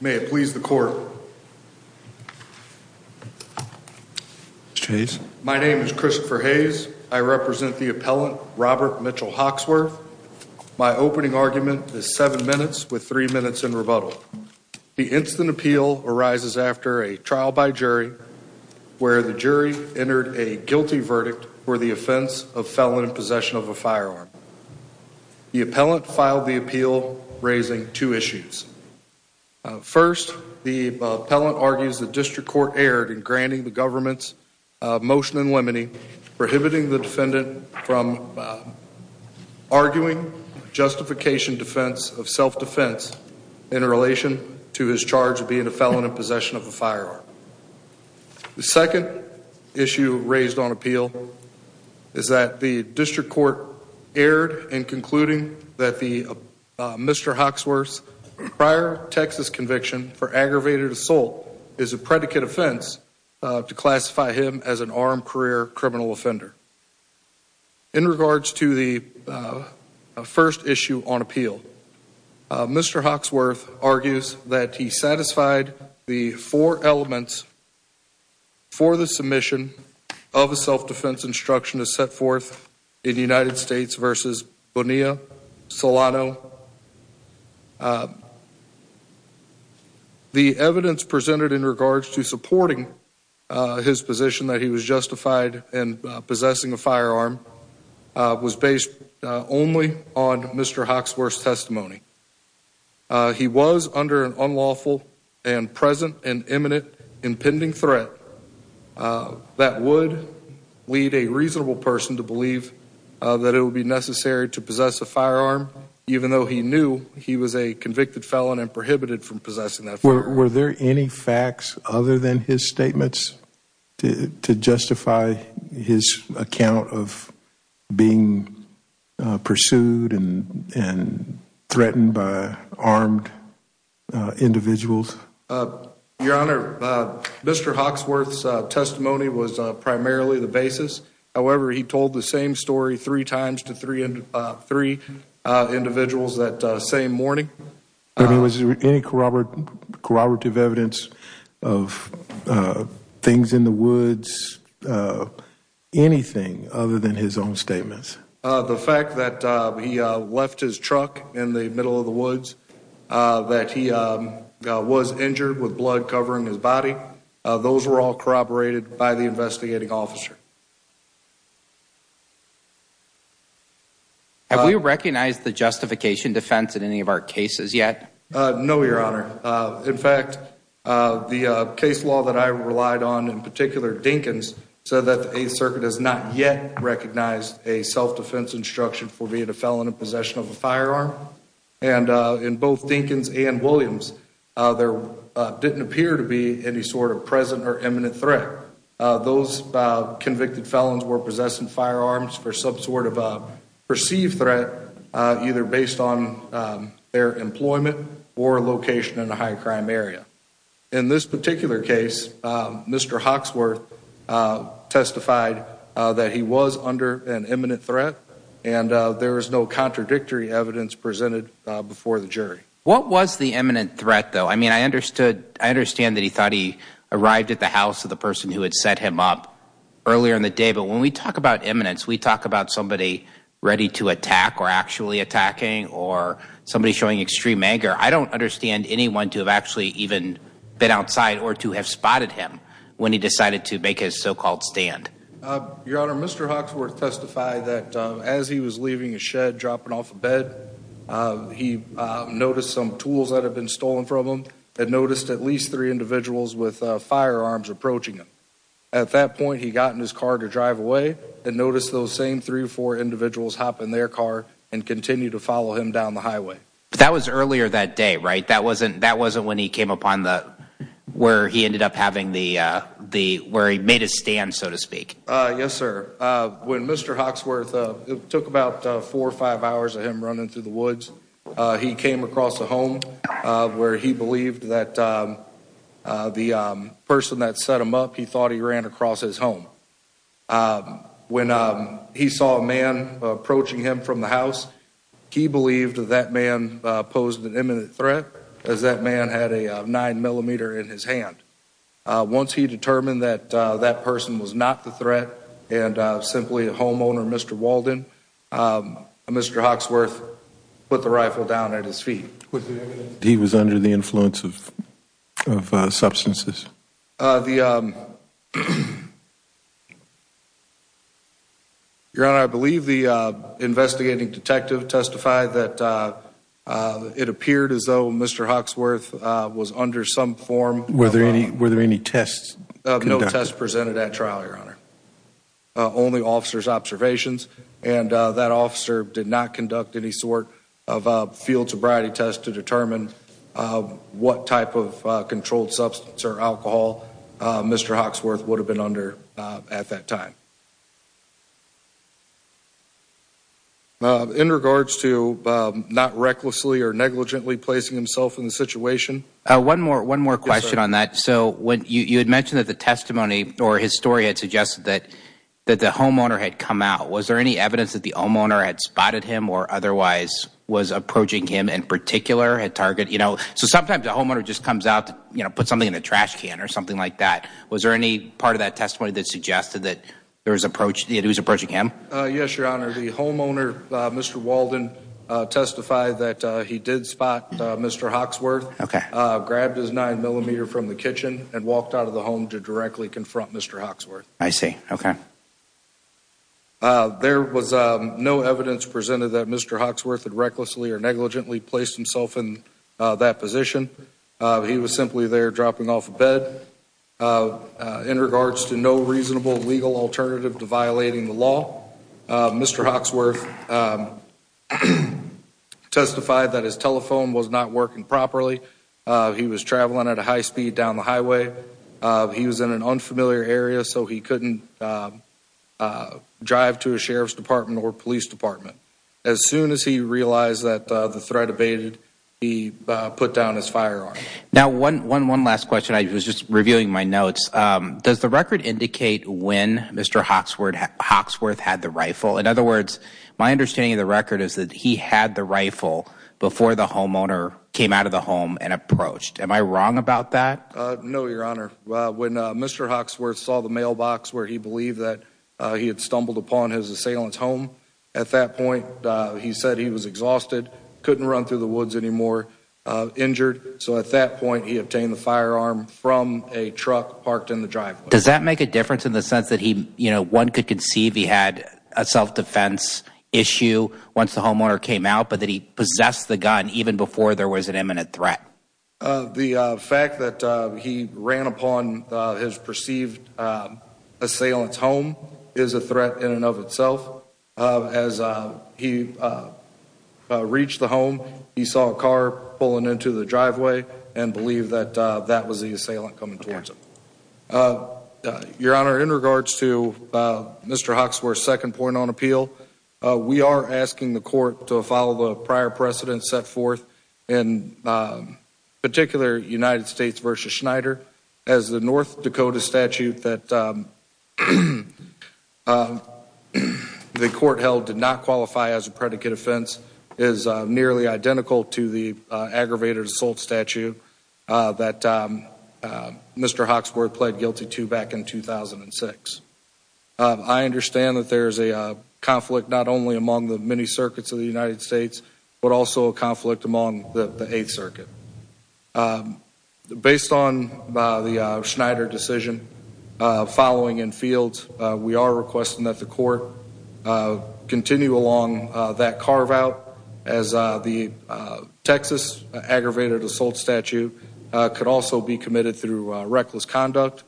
May it please the court. My name is Christopher Hayes. I represent the appellant Robert Mitchell Hoxworth. My opening argument is seven minutes with three minutes in rebuttal. The instant appeal arises after a trial by jury where the jury entered a guilty verdict for the offense of felon in possession of a firearm. The appellant filed the appeal raising two issues. First, the appellant argues the district court erred in granting the government's motion in limine, prohibiting the defendant from arguing justification defense of self-defense in relation to his charge of being a felon in possession of a firearm. The second issue raised on appeal is that the district court erred in concluding that the Mr. Hoxworth's prior Texas conviction for aggravated assault is a predicate offense to classify him as an armed career criminal offender. In regards to the first issue on appeal, Mr. Hoxworth argues that he satisfied the four elements for the submission of a self-defense instruction is set forth in the United States versus Bonilla Solano. The evidence presented in regards to supporting his position that he was justified in possessing a firearm was based only on Mr. He was under an unlawful and present and imminent impending threat that would lead a reasonable person to believe that it would be necessary to possess a firearm, even though he knew he was a convicted felon and prohibited from possessing that. Were there any facts other than his statements to justify his account of being pursued and threatened by armed individuals? Your Honor, Mr. Hoxworth's testimony was primarily the basis. However, he told the same story three times to three and three individuals that same morning. Was there any corroborative evidence of things in the woods, anything other than his own statements? The fact that he left his truck in the middle of the woods, that he was injured with blood covering his body, those were all corroborated by the investigating officer. Have we recognized the justification defense in any of our cases yet? No, Your Honor. In fact, the case law that I relied on, in particular, Dinkins, said that the Eighth Circuit has not yet recognized a self-defense instruction for being a felon in possession of a firearm. And in both Dinkins and Williams, there didn't appear to be any sort of present or imminent threat. Those convicted felons were possessing firearms for some sort of perceived threat, either based on their employment or location in a high-crime area. In this particular case, Mr. Hoxworth testified that he was under an imminent threat, and there was no contradictory evidence presented before the jury. What was the imminent threat, though? I mean, I understand that he thought he arrived at the house of the person who had set him up earlier in the day. But when we talk about imminence, we talk about somebody ready to attack or actually attacking or somebody showing extreme anger. I don't understand anyone to have actually even been outside or to have spotted him when he decided to make his so-called stand. Your Honor, Mr. Hoxworth testified that as he was leaving his shed, dropping off of bed, he noticed some tools that had been stolen from him and noticed at least three individuals with firearms approaching him. At that point, he got in his car to drive away and noticed those same three or four individuals hop in their car and continue to follow him down the highway. But that was earlier that day, right? That wasn't when he came upon the – where he ended up having the – where he made his stand, so to speak. Yes, sir. When Mr. Hoxworth – it took about four or five hours of him running through the woods. He came across a home where he believed that the person that set him up, he thought he ran across his home. When he saw a man approaching him from the house, he believed that that man posed an imminent threat as that man had a 9-millimeter in his hand. Once he determined that that person was not the threat and simply a homeowner, Mr. Walden, Mr. Hoxworth put the rifle down at his feet. He was under the influence of substances? Your Honor, I believe the investigating detective testified that it appeared as though Mr. Hoxworth was under some form of – Were there any tests conducted? No tests presented at trial, Your Honor. Only officers' observations. And that officer did not conduct any sort of field sobriety test to determine what type of controlled substance or alcohol Mr. Hoxworth would have been under at that time. In regards to not recklessly or negligently placing himself in the situation – One more question on that. So you had mentioned that the testimony or his story had suggested that the homeowner had come out. Was there any evidence that the homeowner had spotted him or otherwise was approaching him in particular? So sometimes the homeowner just comes out to put something in the trash can or something like that. Was there any part of that testimony that suggested that he was approaching him? Yes, Your Honor. The homeowner, Mr. Walden, testified that he did spot Mr. Hoxworth. Okay. Grabbed his 9mm from the kitchen and walked out of the home to directly confront Mr. Hoxworth. I see. Okay. There was no evidence presented that Mr. Hoxworth had recklessly or negligently placed himself in that position. He was simply there dropping off of bed. In regards to no reasonable legal alternative to violating the law, Mr. testified that his telephone was not working properly. He was traveling at a high speed down the highway. He was in an unfamiliar area, so he couldn't drive to a sheriff's department or police department. As soon as he realized that the threat abated, he put down his firearm. Now, one last question. I was just reviewing my notes. Does the record indicate when Mr. Hoxworth had the rifle? In other words, my understanding of the record is that he had the rifle before the homeowner came out of the home and approached. Am I wrong about that? No, Your Honor. When Mr. Hoxworth saw the mailbox where he believed that he had stumbled upon his assailant's home, at that point, he said he was exhausted, couldn't run through the woods anymore, injured. So, at that point, he obtained the firearm from a truck parked in the driveway. Does that make a difference in the sense that one could conceive he had a self-defense issue once the homeowner came out, but that he possessed the gun even before there was an imminent threat? The fact that he ran upon his perceived assailant's home is a threat in and of itself. As he reached the home, he saw a car pulling into the driveway and believed that that was the assailant coming towards him. Your Honor, in regards to Mr. Hoxworth's second point on appeal, we are asking the court to follow the prior precedents set forth, in particular, United States v. Schneider, as the North Dakota statute that the court held did not qualify as a predicate offense is nearly identical to the aggravated assault statute that Mr. Hoxworth pled guilty to back in 2006. I understand that there is a conflict not only among the many circuits of the United States, but also a conflict among the Eighth Circuit. Based on the Schneider decision following in fields, we are requesting that the court along that carve-out as the Texas aggravated assault statute could also be committed through reckless conduct.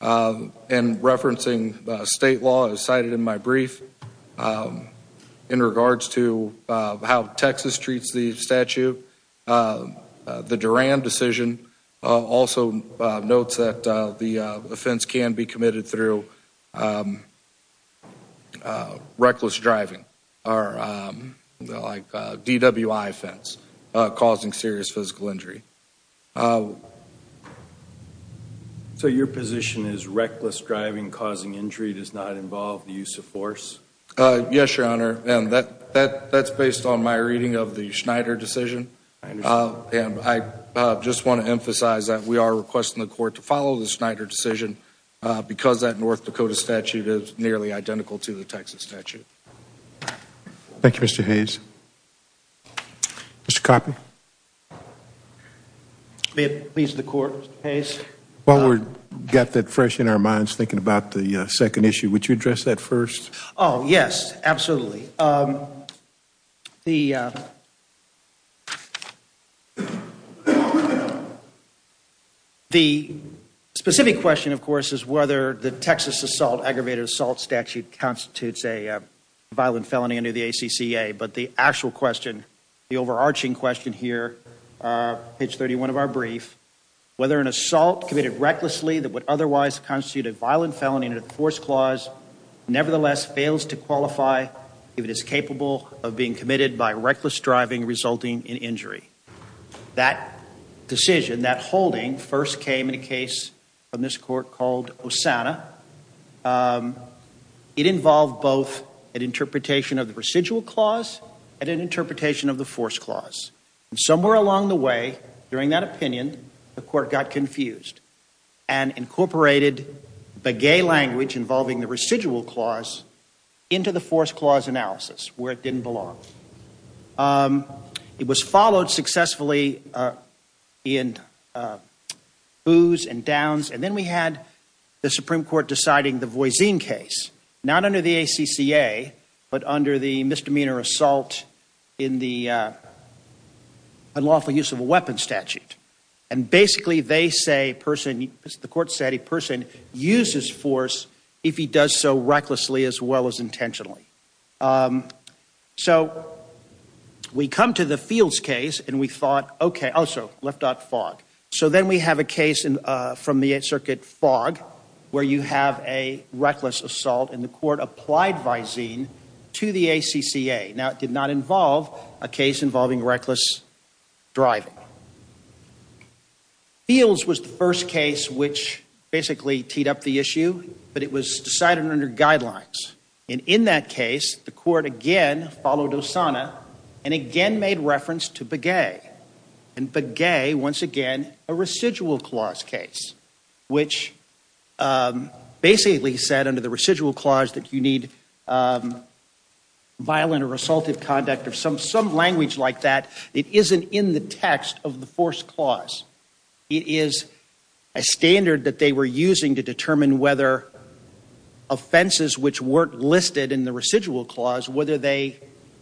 Referencing state law as cited in my brief, in regards to how Texas treats the statute, the Duran decision also notes that the offense can be committed through reckless driving or DWI offense, causing serious physical injury. So your position is reckless driving causing injury does not involve the use of force? Yes, Your Honor. That is based on my reading of the Schneider decision. I just want to emphasize that we are requesting the court to follow the Schneider decision because that North Dakota statute is nearly identical to the Texas statute. Thank you, Mr. Hayes. Mr. Coffey? May it please the Court, Mr. Hayes? While we have that fresh in our minds, thinking about the second issue, would you address that first? Oh, yes, absolutely. The specific question, of course, is whether the Texas aggravated assault statute constitutes a violent felony under the ACCA, but the actual question, the overarching question here, page 31 of our brief, whether an assault committed recklessly that would otherwise constitute a violent felony under the force clause nevertheless fails to qualify if it is capable of being committed by reckless driving resulting in injury. That decision, that holding, first came in a case from this Court called Osana. It involved both an interpretation of the residual clause and an interpretation of the force clause. And somewhere along the way, during that opinion, the Court got confused and incorporated the gay language involving the residual clause into the force clause analysis where it didn't belong. It was followed successfully in boos and downs, and then we had the Supreme Court deciding the Voisin case, not under the ACCA, but under the misdemeanor assault in the unlawful use of a weapon statute. And basically, they say, the Court said, a person uses force if he does so recklessly as well as intentionally. So, we come to the Fields case, and we thought, okay, also, left out fog. So, then we have a case from the Eighth Circuit, fog, where you have a reckless assault, and the Court applied Voisin to the ACCA. Now, it did not involve a case involving reckless driving. Fields was the first case which basically teed up the issue, but it was decided under guidelines. And in that case, the Court again followed Osana and again made reference to Begay. And Begay, once again, a residual clause case, which basically said under the residual clause that you need violent or assaultive conduct or some language like that. It isn't in the text of the force clause. It is a standard that they were using to determine whether offenses which weren't listed in the residual clause, whether they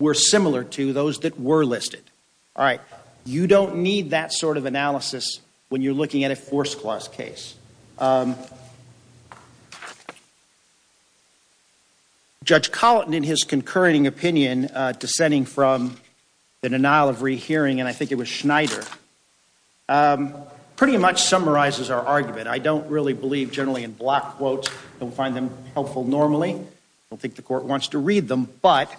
were similar to those that were listed. All right. You don't need that sort of analysis when you're looking at a force clause case. Judge Colleton, in his concurring opinion, descending from the denial of rehearing, and I think it was Schneider, pretty much summarizes our argument. I don't really believe generally in block quotes. I don't find them helpful normally. I don't think the Court wants to read them. But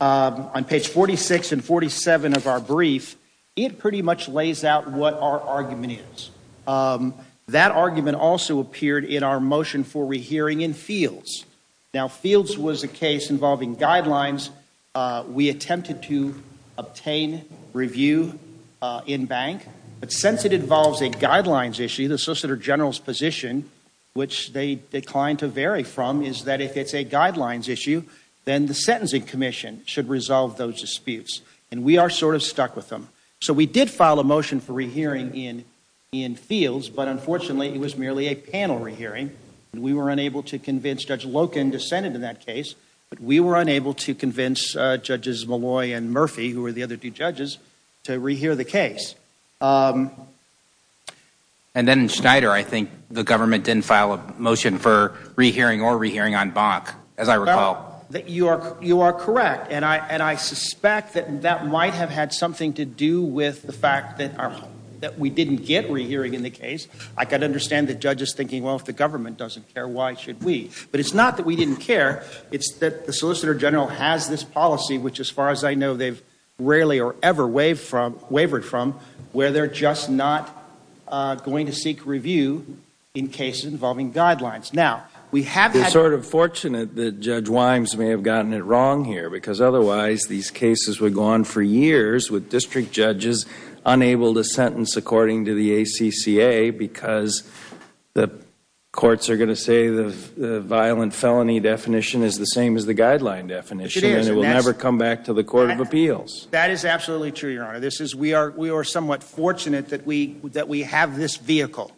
on page 46 and 47 of our brief, it pretty much lays out what our argument is. That argument also appeared in our motion for rehearing in Fields. Now, Fields was a case involving guidelines. We attempted to obtain review in bank. But since it involves a guidelines issue, the Solicitor General's position, which they should resolve those disputes. And we are sort of stuck with them. So we did file a motion for rehearing in Fields. But unfortunately, it was merely a panel rehearing. And we were unable to convince Judge Loken to send it in that case. But we were unable to convince Judges Molloy and Murphy, who were the other two judges, to rehear the case. And then in Schneider, I think the government didn't file a motion for rehearing or rehearing on bank, as I recall. You are correct. And I suspect that that might have had something to do with the fact that we didn't get rehearing in the case. I can understand the judges thinking, well, if the government doesn't care, why should we? But it's not that we didn't care. It's that the Solicitor General has this policy, which as far as I know, they've rarely or ever wavered from, where they're just not going to seek review in cases involving guidelines. We're sort of fortunate that Judge Wimes may have gotten it wrong here because otherwise these cases would go on for years with district judges unable to sentence according to the ACCA because the courts are going to say the violent felony definition is the same as the guideline definition and it will never come back to the Court of Appeals. That is absolutely true, Your Honor. We are somewhat fortunate that we have this vehicle.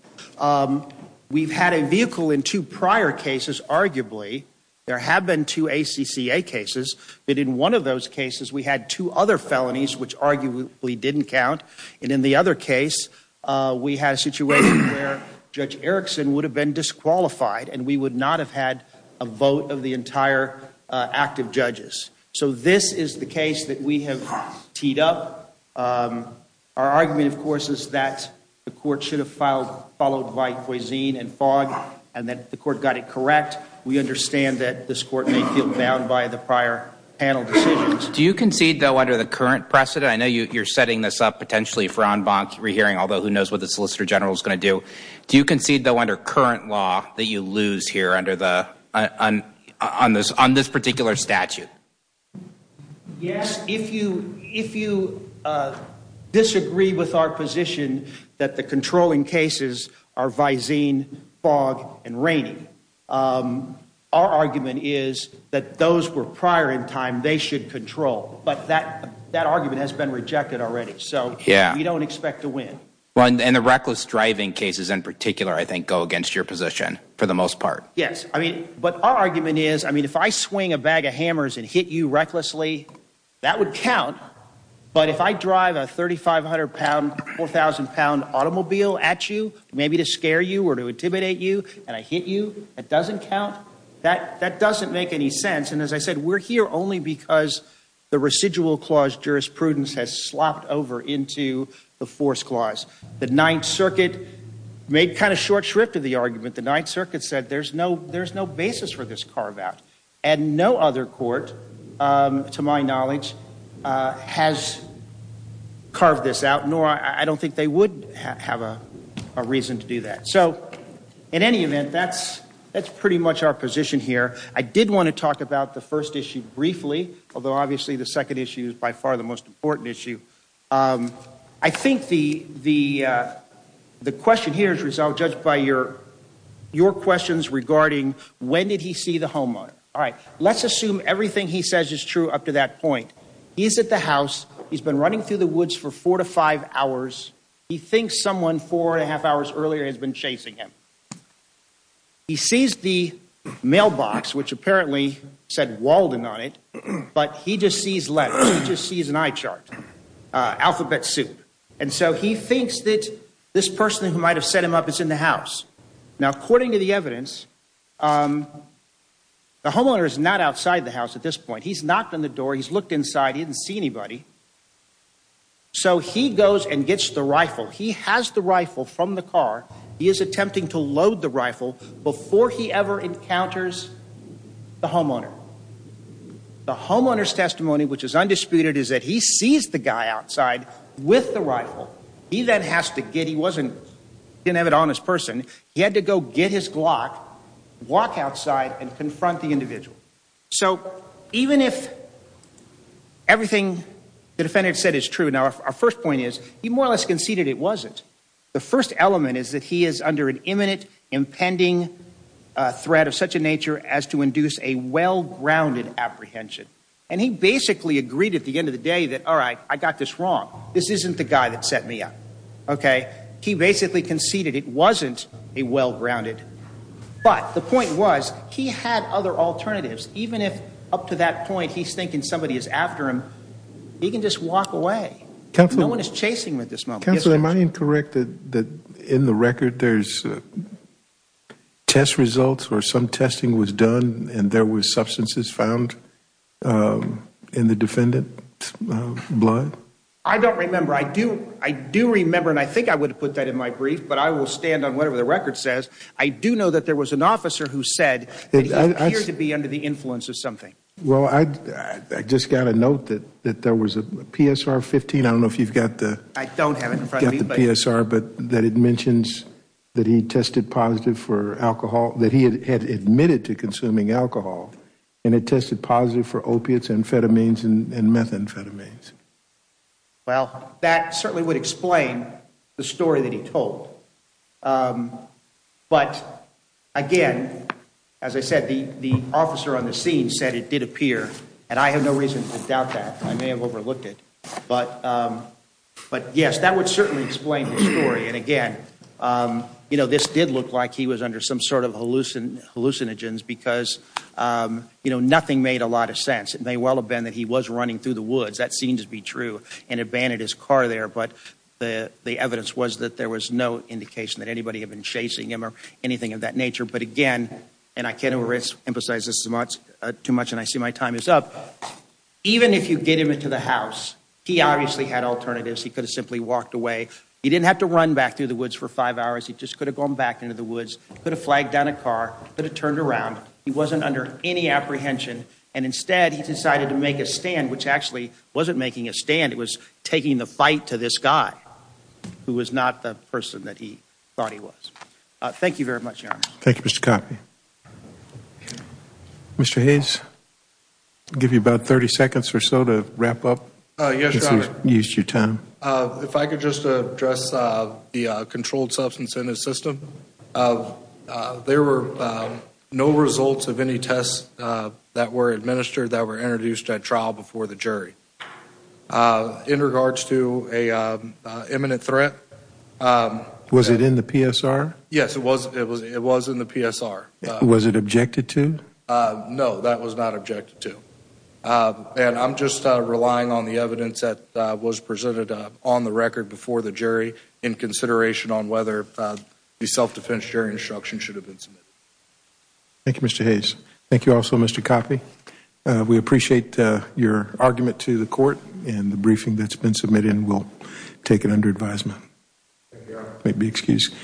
We've had a vehicle in two prior cases, arguably. There have been two ACCA cases. But in one of those cases, we had two other felonies, which arguably didn't count. And in the other case, we had a situation where Judge Erickson would have been disqualified and we would not have had a vote of the entire active judges. So this is the case that we have teed up. Our argument, of course, is that the court should have followed by Cuisine and Fogg and that the court got it correct. We understand that this court may feel bound by the prior panel decisions. Do you concede, though, under the current precedent? I know you're setting this up potentially for en banc re-hearing, although who knows what the Solicitor General is going to do. Do you concede, though, under current law that you lose here on this particular statute? Yes. If you disagree with our position that the controlling cases are Visine, Fogg, and Rainey, our argument is that those were prior in time they should control. But that argument has been rejected already. So we don't expect to win. And the reckless driving cases in particular, I think, go against your position for the most part. Yes. I mean, but our argument is, I mean, if I swing a bag of hammers and hit you recklessly, that would count. But if I drive a 3,500-pound, 4,000-pound automobile at you, maybe to scare you or to intimidate you, and I hit you, that doesn't count? That doesn't make any sense. And as I said, we're here only because the residual clause jurisprudence has slopped over into the force clause. The Ninth Circuit made kind of short shrift of the argument. The Ninth Circuit said there's no basis for this carve-out. And no other court, to my knowledge, has carved this out, nor I don't think they would have a reason to do that. So in any event, that's pretty much our position here. I did want to talk about the first issue briefly, although obviously the second issue is by far the most important issue. I think the question here is judged by your questions regarding when did he see the homeowner. All right. Let's assume everything he says is true up to that point. He's at the house. He's been running through the woods for four to five hours. He thinks someone four and a half hours earlier has been chasing him. He sees the mailbox, which apparently said Walden on it, but he just sees letters. He just sees an eye chart, alphabet soup. And so he thinks that this person who might have set him up is in the house. Now, according to the evidence, the homeowner is not outside the house at this point. He's knocked on the door. He's looked inside. He didn't see anybody. So he goes and gets the rifle. He has the rifle from the car. He is attempting to load the rifle before he ever encounters the homeowner. The homeowner's testimony, which is undisputed, is that he sees the guy outside with the rifle. He then has to get, he didn't have it on his person, he had to go get his Glock, walk outside and confront the individual. So even if everything the defendant said is true, now our first point is, he more or less conceded it wasn't. The first element is that he is under an imminent impending threat of such a nature as to induce a well-grounded apprehension. And he basically agreed at the end of the day that, all right, I got this wrong. This isn't the guy that set me up. Okay? He basically conceded it wasn't a well-grounded. But the point was, he had other alternatives. Even if up to that point he's thinking somebody is after him, he can just walk away. No one is chasing him at this moment. Counselor, am I incorrect that in the record there's test results or some testing was done and there were substances found in the defendant's blood? I don't remember. I do remember, and I think I would have put that in my brief, but I will stand on whatever the record says. I do know that there was an officer who said that he appeared to be under the influence of something. Well, I just got a note that there was a PSR-15. I don't know if you've got that. I don't have it in front of me. You've got the PSR, but it mentions that he had admitted to consuming alcohol and had tested positive for opiates, amphetamines, and methamphetamines. Well, that certainly would explain the story that he told. But, again, as I said, the officer on the scene said it did appear, and I have no reason to doubt that. I may have overlooked it. But, yes, that would certainly explain the story. And, again, this did look like he was under some sort of hallucinogens because nothing made a lot of sense. It may well have been that he was running through the woods, that seems to be true, and had banned his car there, but the evidence was that there was no indication that anybody had been chasing him or anything of that nature. But, again, and I can't emphasize this too much and I see my time is up, but even if you get him into the house, he obviously had alternatives. He could have simply walked away. He didn't have to run back through the woods for five hours. He just could have gone back into the woods, could have flagged down a car, could have turned around. He wasn't under any apprehension. And, instead, he decided to make a stand, which actually wasn't making a stand. It was taking the fight to this guy who was not the person that he thought he was. Thank you very much, Your Honor. Thank you, Mr. Coffey. Mr. Hayes, I'll give you about 30 seconds or so to wrap up. Yes, Your Honor. If we've used your time. If I could just address the controlled substance in his system. There were no results of any tests that were administered that were introduced at trial before the jury. In regards to an imminent threat. Was it in the PSR? Yes, it was in the PSR. Was it objected to? No, that was not objected to. And I'm just relying on the evidence that was presented on the record before the jury in consideration on whether the self-defense jury instruction should have been submitted. Thank you, Mr. Hayes. Thank you also, Mr. Coffey. We appreciate your argument to the court and the briefing that's been submitted and we'll take it under advisement. Thank you, Your Honor. If you'll excuse me.